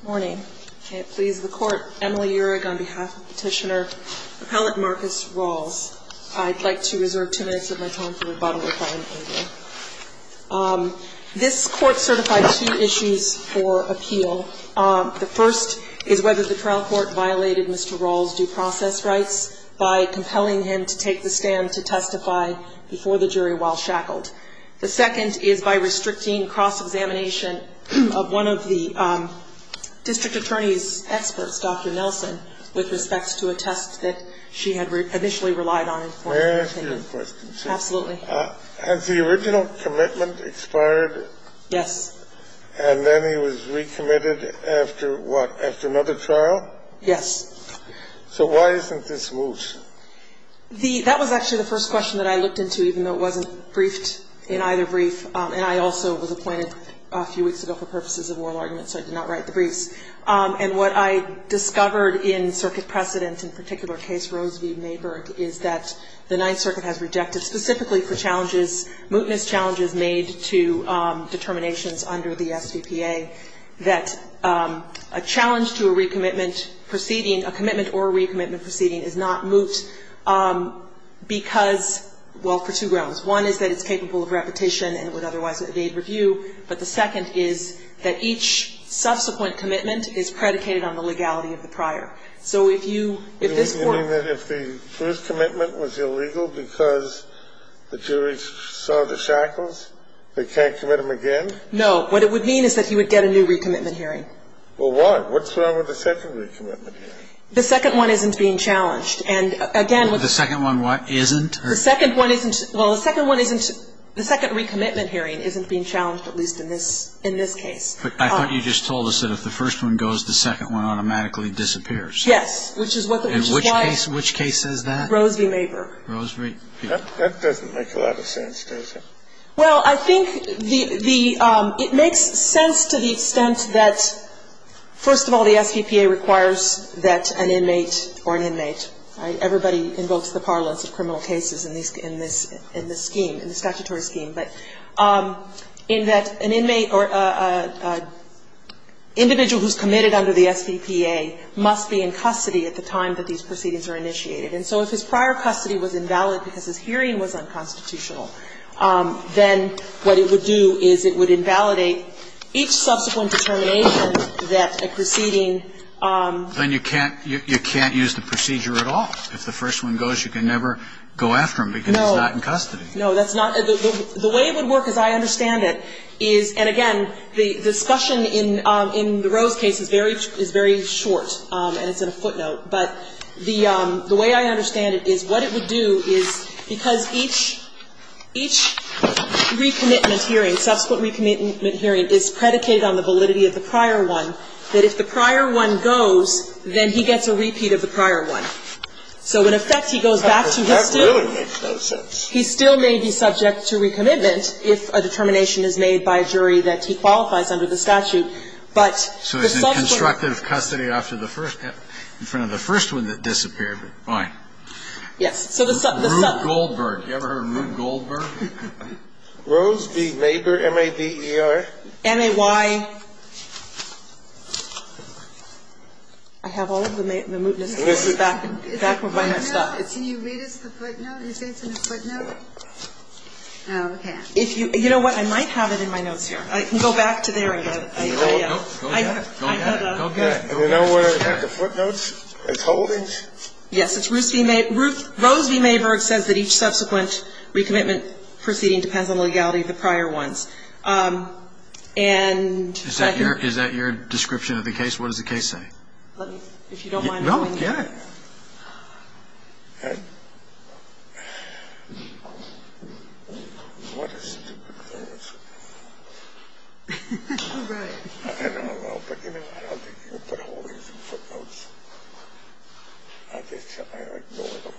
Good morning. It pleases the court, Emily Urig on behalf of Petitioner Appellate Marcus Rawls. I'd like to reserve two minutes of my time for rebuttal if I am able. This court certified two issues for appeal. The first is whether the trial court violated Mr. Rawls' due process rights by compelling him to take the stand to testify before the jury while shackled. The second is by restricting cross-examination of one of the district attorney's experts, Dr. Nelson, with respects to a test that she had initially relied on. May I ask you a question? Absolutely. Has the original commitment expired? Yes. And then he was recommitted after what, after another trial? Yes. So why isn't this loose? That was actually the first question that I looked into, even though it wasn't briefed in either brief. And I also was appointed a few weeks ago for purposes of oral argument, so I did not write the briefs. And what I discovered in circuit precedent, in particular case Rose v. Mayburg, is that the Ninth Circuit has rejected, specifically for challenges, mootness challenges made to determinations under the SVPA, that a challenge to a recommitment proceeding, a commitment or a recommitment proceeding, is not moot because, well, for two grounds. One is that it's capable of repetition and it would otherwise evade review. But the second is that each subsequent commitment is predicated on the legality of the prior. So if you, if this court ---- You mean that if the first commitment was illegal because the jury saw the shackles, they can't commit him again? No. What it would mean is that he would get a new recommitment hearing. Well, why? What's wrong with the second recommitment hearing? The second one isn't being challenged. And, again, with the ---- The second one what? Isn't? The second one isn't. Well, the second one isn't. The second recommitment hearing isn't being challenged, at least in this case. But I thought you just told us that if the first one goes, the second one automatically disappears. Yes. Which is why ---- Which case says that? Rose v. Mayburg. Rose v. That doesn't make a lot of sense, does it? Well, I think the ---- it makes sense to the extent that, first of all, the SVPA requires that an inmate or an inmate ---- everybody invokes the parlance of criminal cases in this scheme, in the statutory scheme ---- but in that an inmate or an individual who's committed under the SVPA must be in custody at the time that these proceedings are initiated. And so if his prior custody was invalid because his hearing was unconstitutional, then what it would do is it would invalidate each subsequent determination that a proceeding ---- Then you can't use the procedure at all. If the first one goes, you can never go after him because he's not in custody. No. No, that's not ---- the way it would work, as I understand it, is ---- and, again, the discussion in the Rose case is very short, and it's in a footnote. But the way I understand it is what it would do is because each ---- each recommitment hearing, subsequent recommitment hearing is predicated on the validity of the prior one, that if the prior one goes, then he gets a repeat of the prior one. So in effect, he goes back to his ---- That really makes no sense. He still may be subject to recommitment if a determination is made by a jury that he qualifies under the statute, but the subsequent ---- So he's in constructive custody after the first ---- in front of the first one that disappeared, but fine. Yes. So the ---- Rube Goldberg. You ever heard of Rube Goldberg? Rose v. Mayberg, M-A-B-E-R? M-A-Y. I have all of the mootness cases back ---- Can you read us the footnote? Are you saying it's in the footnote? Oh, okay. If you ---- you know what? I might have it in my notes here. I can go back to there and get it. Go get it. Go get it. Go get it. You know where I have the footnotes? It's Holdings? Yes. It's Rose v. Mayberg. Rose v. Mayberg says that each subsequent recommitment proceeding depends on the legality of the prior ones. And second ---- Is that your description of the case? What does the case say? If you don't mind ---- No, get it. And what a stupid clause. Right. I don't know. But you know what? I don't think you can put Holdings in footnotes. I just ---- I ignore them.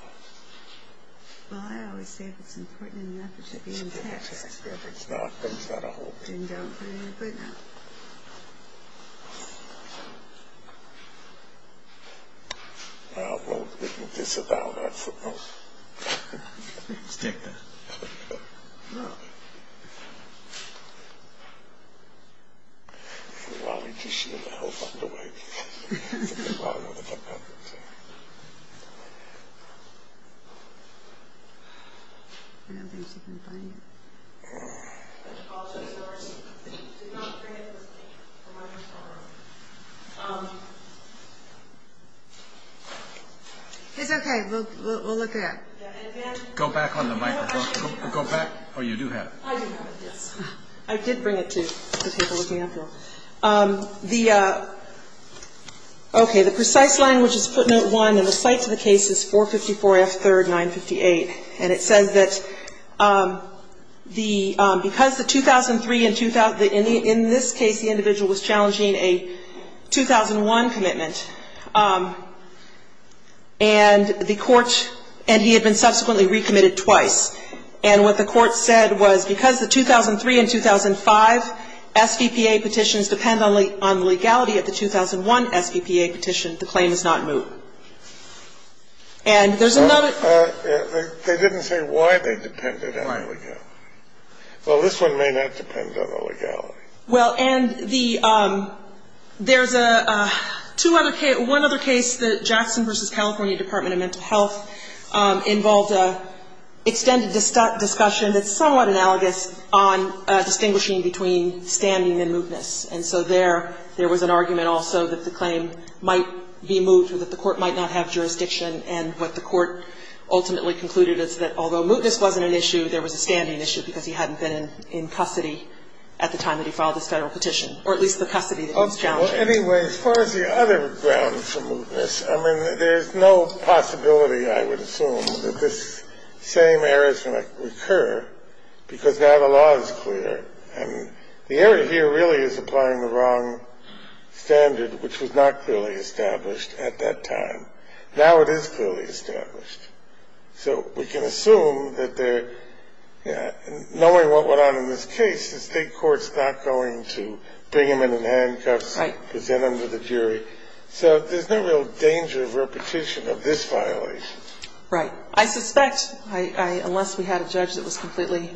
Well, I always say if it's important enough, it should be in the text. If it's not, then it's not a Holdings. Then don't put it in the footnote. Well, I wrote this about that footnote. Stick that. No. If you want me to, she'll help underway. I'll know the footnotes. I don't think she can find it. Go back on the microphone. Go back. Oh, you do have it. I do have it, yes. I did bring it to the table with me after all. The ---- okay. The precise language is footnote 1. And the cite to the case is 454 F. 3rd, 958. And it says that the ---- that the footnote is in the footnote. And it says that the ---- because the 2003 and the ---- in this case, the individual was challenging a 2001 commitment, and the court ---- and he had been subsequently recommitted twice. And what the court said was because the 2003 and 2005 SVPA petitions depend on the legality of the 2001 SVPA petition, the claim is not moved. And there's another ---- They didn't say why they depended on the legality. Right. Well, this one may not depend on the legality. Well, and the ---- there's a two other ---- one other case that Jackson v. California Department of Mental Health involved an extended discussion that's somewhat analogous on distinguishing between standing and mootness. And so there, there was an argument also that the claim might be moved or that the court might not have jurisdiction. And what the court ultimately concluded is that although mootness wasn't an issue, there was a standing issue because he hadn't been in custody at the time that he filed this Federal petition, or at least the custody that he was challenging. Well, anyway, as far as the other grounds for mootness, I mean, there's no possibility, I would assume, that this same error is going to recur because now the law is clear. And the error here really is applying the wrong standard, which was not clearly established at that time. Now it is clearly established. So we can assume that there ---- knowing what went on in this case, the State court's not going to bring him in handcuffs and present him to the jury. So there's no real danger of repetition of this violation. Right. I suspect, unless we had a judge that was completely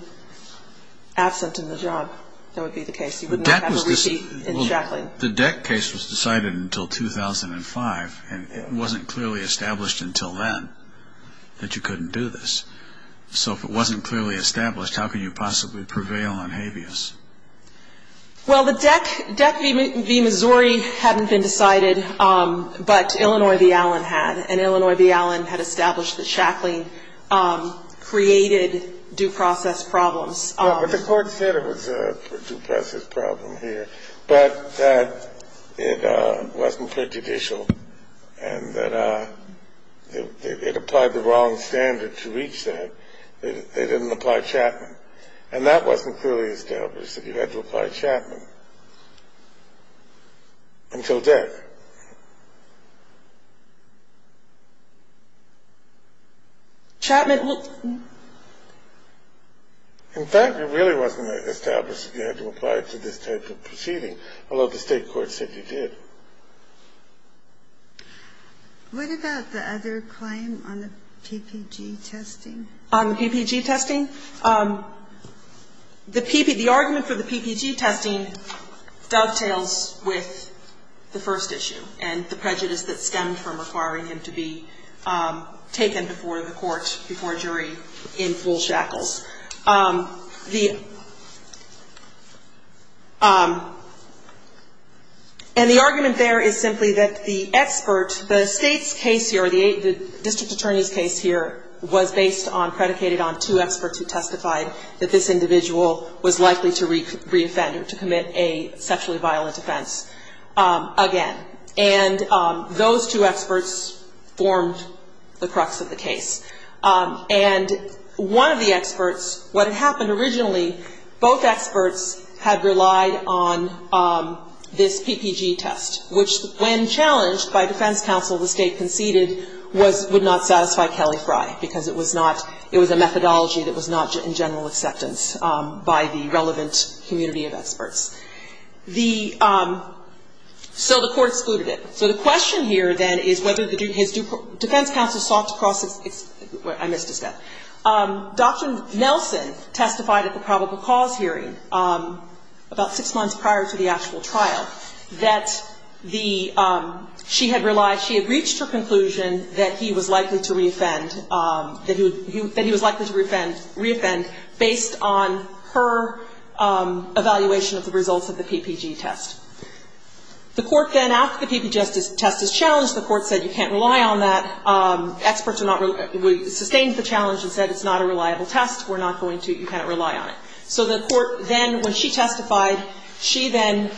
absent in the job, that would be the case. He wouldn't have a repeat in shackling. The Deck case was decided until 2005, and it wasn't clearly established until then that you couldn't do this. So if it wasn't clearly established, how can you possibly prevail on habeas? Well, the Deck v. Missouri hadn't been decided, but Illinois v. Allen had. And Illinois v. Allen had established that shackling created due process problems. Well, but the Court said it was a due process problem here, but that it wasn't prejudicial and that it applied the wrong standard to reach that. They didn't apply Chapman. And that wasn't clearly established, that you had to apply Chapman until Deck. In fact, it really wasn't established that you had to apply it to this type of proceeding, although the State court said you did. What about the other claim on the PPG testing? On the PPG testing? The argument for the PPG testing dovetails with the first issue. And the prejudice that stemmed from requiring him to be taken before the court, before a jury, in full shackles. And the argument there is simply that the expert, the State's case here, the district attorney's case here, was based on, predicated on two experts who testified that this individual was likely to reoffend, to commit a sexually violent offense again. And those two experts formed the crux of the case. And one of the experts, what had happened originally, both experts had relied on this PPG test, which when challenged by defense counsel the State conceded would not satisfy Kelly Fry because it was a methodology that was not in general acceptance by the relevant community of experts. The so the court excluded it. So the question here then is whether his defense counsel sought to cross I missed a step. Dr. Nelson testified at the probable cause hearing about six months prior to the actual trial that the she had relied, she had reached her conclusion that he was likely to reoffend, that he was likely to reoffend based on her evaluation of the results of the PPG test. The court then, after the PPG test is challenged, the court said you can't rely on that. Experts are not, sustained the challenge and said it's not a reliable test. We're not going to, you can't rely on it. So the court then, when she testified, she then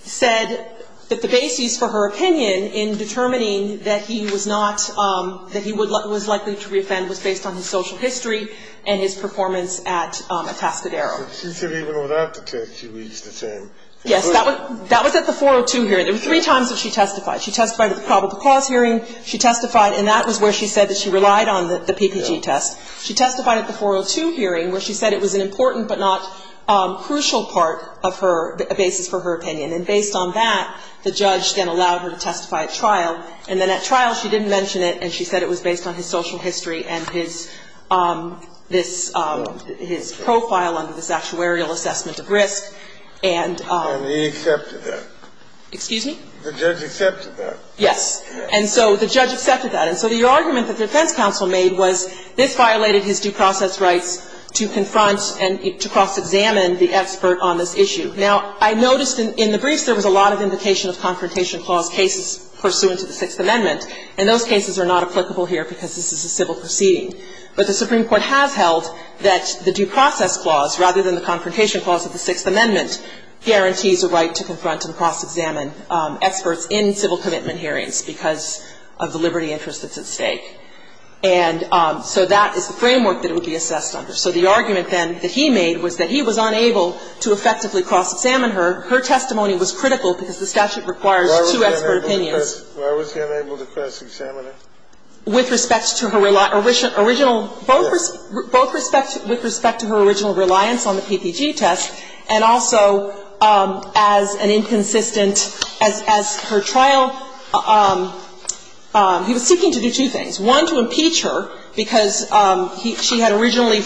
said that the basis for her opinion in determining that he was not, that he was likely to reoffend was based on his social history and his performance at Atascadero. She said even without the test she reached the same. Yes. That was at the 402 hearing. There were three times that she testified. She testified at the probable cause hearing. She testified, and that was where she said that she relied on the PPG test. She testified at the 402 hearing where she said it was an important but not crucial part of her, a basis for her opinion. And based on that, the judge then allowed her to testify at trial. And then at trial she didn't mention it and she said it was based on his social history and his, this, his profile under this actuarial assessment of risk. And he accepted that. Excuse me? The judge accepted that. Yes. And so the judge accepted that. And so the argument that the defense counsel made was this violated his due process rights to confront and to cross-examine the expert on this issue. Now, I noticed in the briefs there was a lot of implication of confrontation clause cases pursuant to the Sixth Amendment. And those cases are not applicable here because this is a civil proceeding. But the Supreme Court has held that the due process clause, rather than the confrontation clause of the Sixth Amendment, guarantees a right to confront and cross-examine experts in civil commitment hearings because of the liberty interest that's at stake. And so that is the framework that it would be assessed under. So the argument then that he made was that he was unable to effectively cross-examine her, her testimony was critical because the statute requires two expert opinions. Why was he unable to cross-examine her? With respect to her original, both respect, with respect to her original reliance on the PPG test and also as an inconsistent, as her trial, he was seeking to do two things. One, to impeach her because she had originally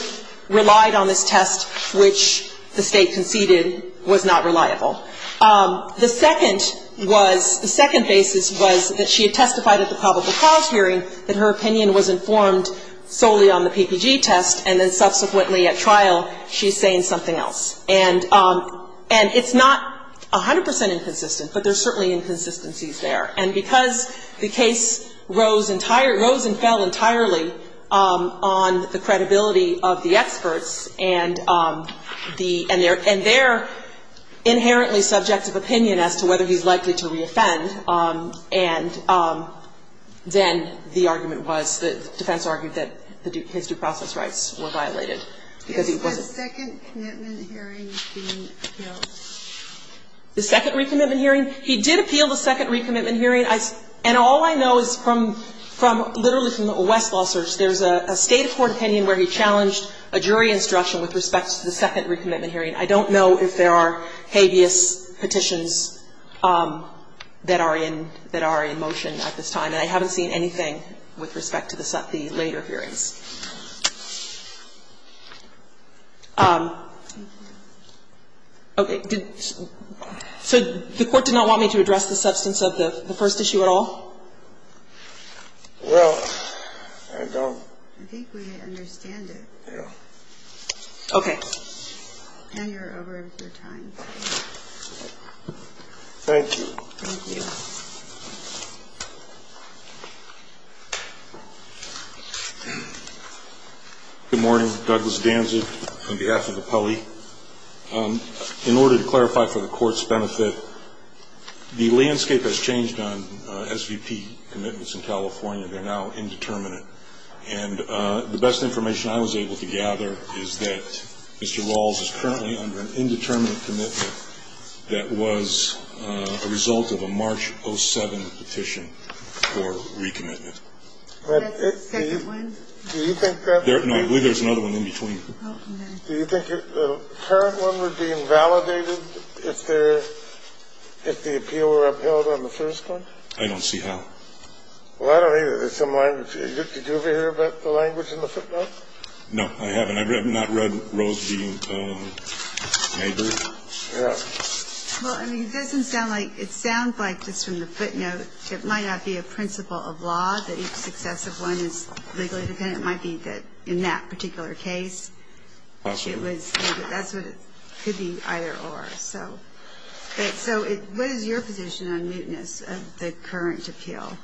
relied on this test, which the State conceded was not reliable. The second was, the second basis was that she had testified at the probable cause hearing that her opinion was informed solely on the PPG test, and then subsequently at trial she's saying something else. And it's not 100 percent inconsistent, but there's certainly inconsistencies there. And because the case rose entirely, rose and fell entirely on the credibility of the experts and the, and their inherently subjective opinion as to whether he's likely to reoffend, and then the argument was, the defense argued that his due process rights were violated because he wasn't. Is the second commitment hearing being appealed? The second recommitment hearing? He did appeal the second recommitment hearing. And all I know is from, literally from the West law search, there's a State court opinion where he challenged a jury instruction with respect to the second recommitment hearing. I don't know if there are habeas petitions that are in, that are in motion at this time, and I haven't seen anything with respect to the later hearings. Okay. So the Court did not want me to address the substance of the first issue at all? Well, I don't. I think we understand it. Yeah. Okay. And you're over your time. Thank you. Thank you. Good morning. Douglas Danzig on behalf of the pulley. In order to clarify for the Court's benefit, the landscape has changed on, as you know, the three key commitments in California. They're now indeterminate. And the best information I was able to gather is that Mr. Rawls is currently under an indeterminate commitment that was a result of a March 07 petition for recommitment. That's the second one? Do you think that's the second one? No, I believe there's another one in between. Oh, okay. Do you think the current one would be invalidated if the appeal were upheld on the first one? I don't see how. Well, I don't either. There's some language. Did you ever hear about the language in the footnote? No, I haven't. I've not read Rose being naggered. Yeah. Well, I mean, it doesn't sound like – it sounds like just from the footnote it might not be a principle of law that each successive one is legally dependent. It might be that in that particular case it was – that's what it could be either or. So what is your position on muteness of the current appeal?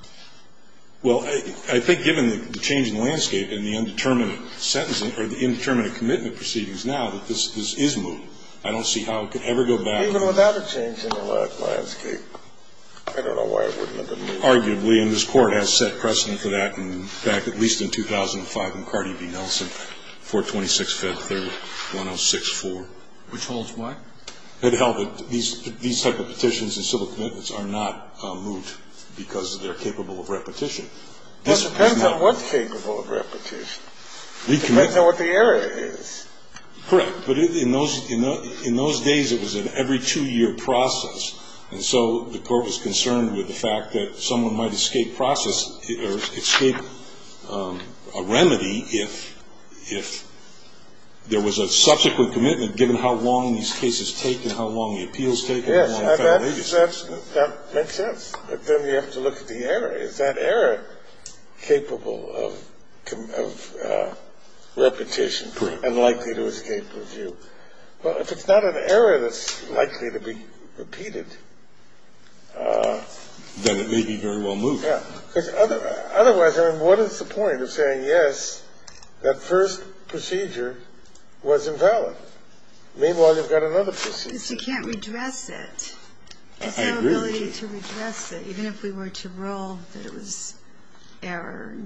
Well, I think given the change in landscape and the indeterminate sentencing or the indeterminate commitment proceedings now that this is moved. I don't see how it could ever go back. Even without a change in the landscape, I don't know why it wouldn't have been moved. Arguably, and this Court has set precedent for that back at least in 2005 in Cardi B. Nelson, 426 Fed 3rd 106-4. Which holds what? That these type of petitions and civil commitments are not moved because they're capable of repetition. That depends on what's capable of repetition. Depends on what the area is. Correct. But in those days it was an every-two-year process. And so the Court was concerned with the fact that someone might escape a remedy if there was a subsequent commitment given how long these cases take and how long the appeals take. Yes, that makes sense. But then you have to look at the error. Is that error capable of repetition and likely to escape review? Correct. Well, if it's not an error that's likely to be repeated. Then it may be very well moved. Otherwise, what is the point of saying, yes, that first procedure was invalid? Meanwhile, you've got another procedure. Because you can't redress it. I agree with you. It's our ability to redress it, even if we were to rule that it was error.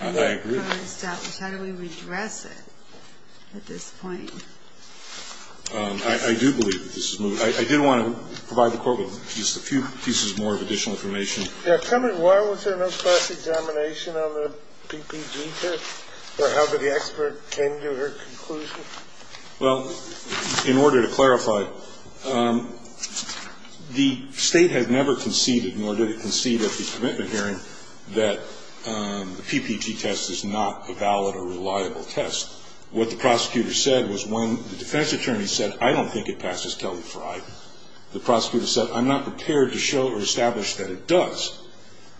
I agree. How do we redress it at this point? I do believe that this is moved. I did want to provide the Court with just a few pieces more of additional information. Yeah, tell me, why was there no class examination on the PPG test? Or how did the expert come to her conclusion? Well, in order to clarify, the State had never conceded, nor did it concede at the commitment hearing, that the PPG test is not a valid or reliable test. What the prosecutor said was when the defense attorney said, I don't think it passes Kelly-Frey, the prosecutor said, I'm not prepared to show or establish that it does.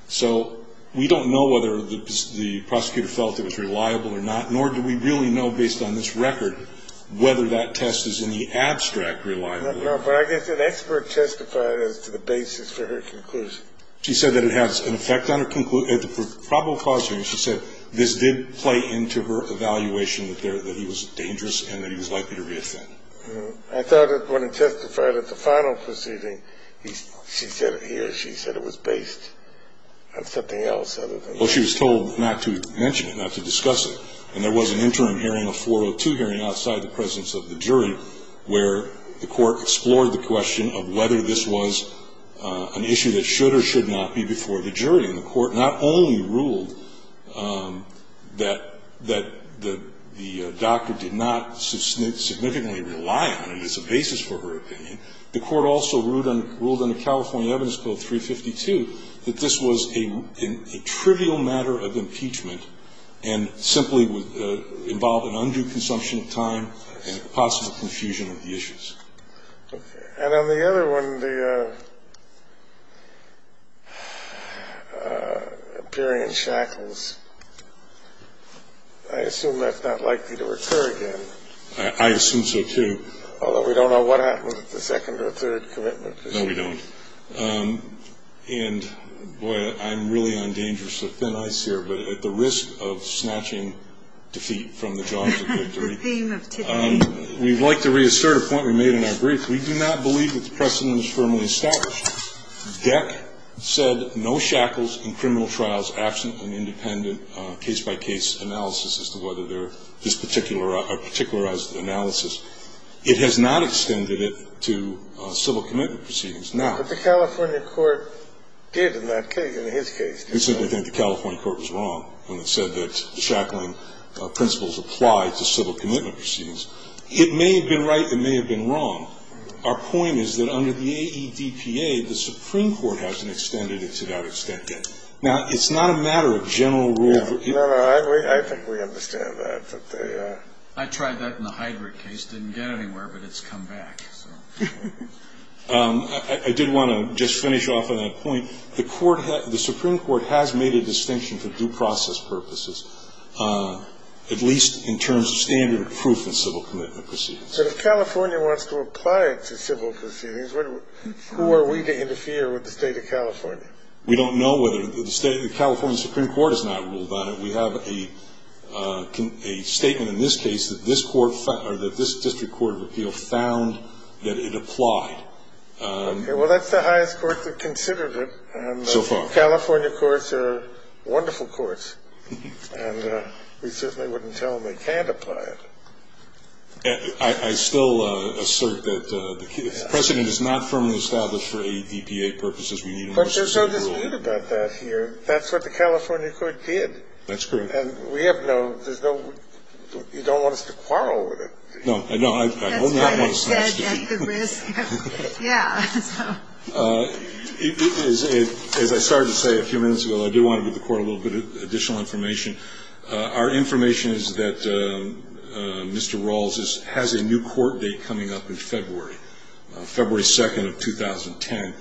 So we don't know whether the prosecutor felt it was reliable or not, nor do we really know, based on this record, whether that test is in the abstract reliable. No, but I guess an expert testified as to the basis for her conclusion. She said that it has an effect on her conclusion. At the probable cause hearing, she said this did play into her evaluation that he was dangerous and that he was likely to reoffend. I thought that when he testified at the final proceeding, he or she said it was based on something else other than that. Well, she was told not to mention it, not to discuss it. And there was an interim hearing, a 402 hearing, outside the presence of the jury, where the court explored the question of whether this was an issue that should or should not be before the jury. And the court not only ruled that the doctor did not significantly rely on it as a basis for her opinion, the court also ruled under California Evidence Code 352 that this was a trivial matter of impeachment and simply involved an undue consumption of time and possible confusion of the issues. Okay. And on the other one, the appearing in shackles, I assume that's not likely to occur again. I assume so, too. Although we don't know what happens at the second or third commitment. No, we don't. And, boy, I'm really on dangerous thin ice here, but at the risk of snatching defeat from the jaws of victory. The theme of today. We'd like to reassert a point we made in our brief. We do not believe that the precedent is firmly established. DEC said no shackles in criminal trials absent an independent case-by-case analysis as to whether there is particularized analysis. It has not extended it to civil commitment proceedings. But the California court did in that case, in his case. We simply think the California court was wrong when it said that shackling principles apply to civil commitment proceedings. It may have been right. It may have been wrong. Our point is that under the AEDPA, the Supreme Court hasn't extended it to that extent yet. Now, it's not a matter of general rule. I think we understand that. I tried that in the Heidrich case. It didn't get anywhere, but it's come back. I did want to just finish off on that point. The Supreme Court has made a distinction for due process purposes. At least in terms of standard of proof in civil commitment proceedings. But if California wants to apply it to civil proceedings, who are we to interfere with the state of California? We don't know whether the California Supreme Court has not ruled on it. We have a statement in this case that this district court of appeal found that it applied. Well, that's the highest court that considered it. So far. California courts are wonderful courts. And we certainly wouldn't tell them they can't apply it. I still assert that the precedent is not firmly established for AEDPA purposes. But there's no dispute about that here. That's what the California court did. That's correct. And we have no, there's no, you don't want us to quarrel with it. No. That's good. At the risk of, yeah. As I started to say a few minutes ago, I did want to give the court a little bit of additional information. Our information is that Mr. Rawls has a new court date coming up in February, February 2nd of 2010.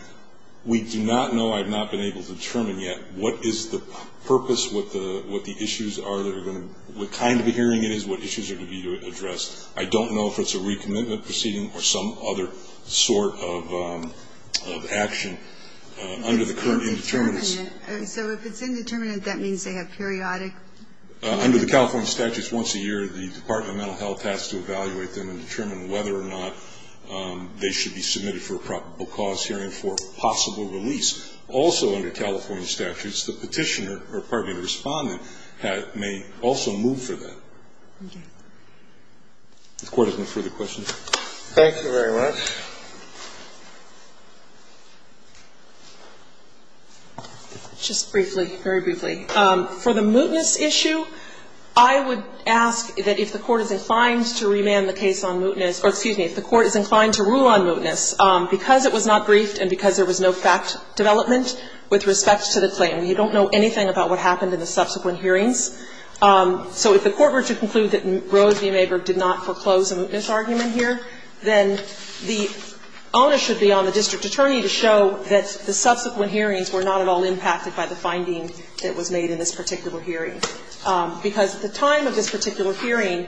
We do not know, I have not been able to determine yet, what is the purpose, what the issues are that are going to, what kind of a hearing it is, what issues are to be addressed. I don't know if it's a recommitment proceeding or some other sort of action under the current indeterminacy. So if it's indeterminate, that means they have periodic? Under the California statutes, once a year, the Department of Mental Health has to evaluate them and determine whether or not they should be submitted for a probable cause hearing for possible release. Also under California statutes, the Petitioner, or pardon me, the Respondent may also move for that. Okay. If the Court has no further questions. Thank you very much. Just briefly, very briefly, for the mootness issue, I would ask that if the Court is inclined to remand the case on mootness, or excuse me, if the Court is inclined to rule on mootness because it was not briefed and because there was no fact development with respect to the claim. You don't know anything about what happened in the subsequent hearings. So if the Court were to conclude that Rose v. Maberg did not foreclose a mootness argument here, then the onus should be on the district attorney to show that the subsequent hearings were not at all impacted by the finding that was made in this particular hearing. Because at the time of this particular hearing,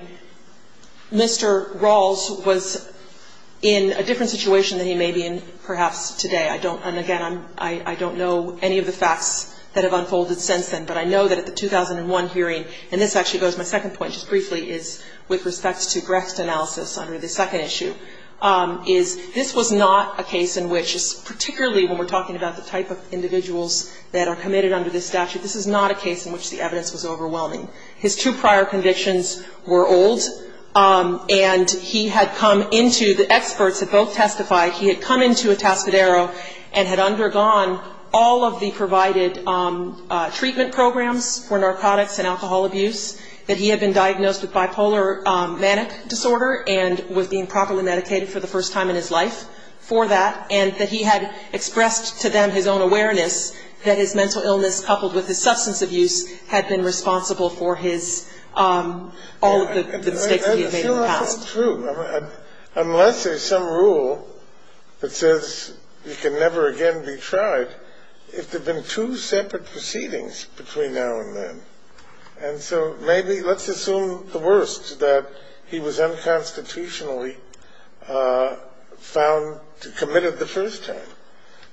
Mr. Rawls was in a different situation than he may be in perhaps today. I don't, and again, I don't know any of the facts that have unfolded since then, but I know that at the 2001 hearing, and this actually goes to my second point just briefly, is with respect to Brecht's analysis under the second issue, is this was not a case in which, particularly when we're talking about the type of individuals that are committed under this statute, this is not a case in which the evidence was overwhelming. His two prior convictions were old, and he had come into, the experts had both testified, he had come into a Tascadero and had undergone all of the provided treatment programs for narcotics and alcohol abuse, that he had been diagnosed with bipolar manic disorder and was being properly medicated for the first time in his life for that, and that he had expressed to them his own awareness that his mental illness coupled with his substance abuse had been responsible for his, all of the mistakes that he had made in the past. That's not so true. Unless there's some rule that says you can never again be tried, if there have been two separate proceedings between now and then, and so maybe let's assume the worst, that he was unconstitutionally found, committed the first time.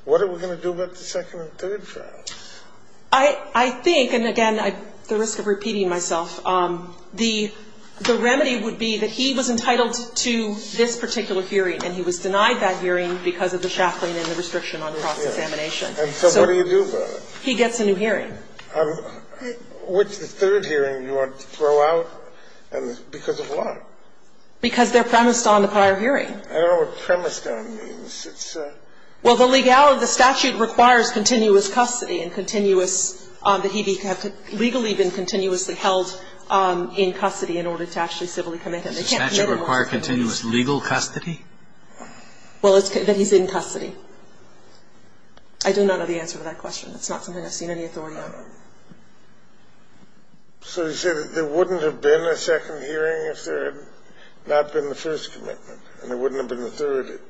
What are we going to do about the second and third trials? I think, and again, at the risk of repeating myself, the remedy would be that he was entitled to this particular hearing, and he was denied that hearing because of the shackling and the restriction on cross-examination. And so what do you do about it? He gets a new hearing. Which third hearing do you want to throw out? Because of what? Because they're premised on the prior hearing. I don't know what premised on means. Well, the statute requires continuous custody and continuous, that he be legally been continuously held in custody in order to actually civilly commit him. Does the statute require continuous legal custody? Well, that he's in custody. I do not know the answer to that question. It's not something I've seen any authority on. So you say that there wouldn't have been a second hearing if there had not been the first commitment, and there wouldn't have been the third?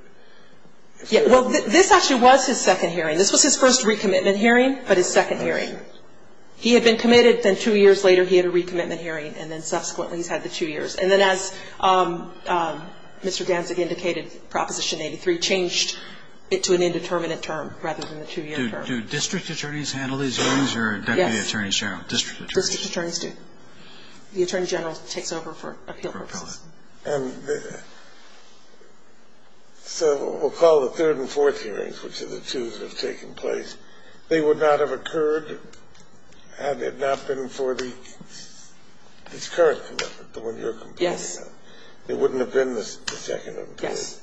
Well, this actually was his second hearing. This was his first recommitment hearing, but his second hearing. He had been committed, then two years later he had a recommitment hearing, and then subsequently he's had the two years. And then as Mr. Danzig indicated, Proposition 83 changed it to an indeterminate term rather than the two-year term. Do district attorneys handle these hearings or deputy attorney general? District attorneys. District attorneys do. The attorney general takes over for appeal purposes. And so we'll call the third and fourth hearings, which are the two that have taken place. They would not have occurred had it not been for the current commitment, the one that you're complaining about. Yes. It wouldn't have been the second. Yes.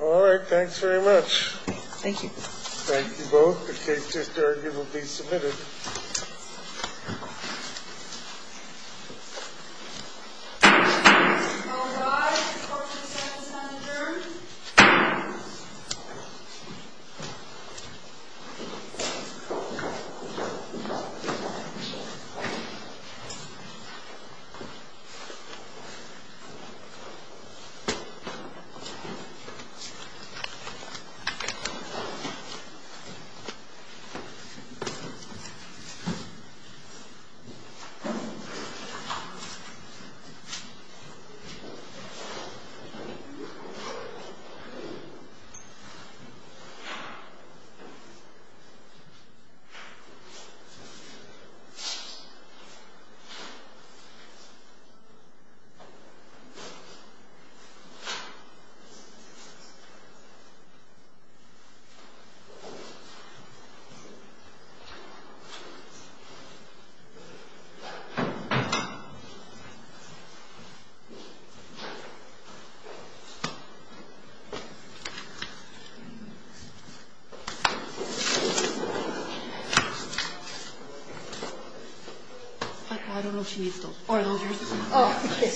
All right. Thanks very much. Thank you. Thank you both. The case is currently submitted. Thank you. Thank you. Thank you. Thank you. Thank you. I don't know if she needs those. Oh, okay. Thank you.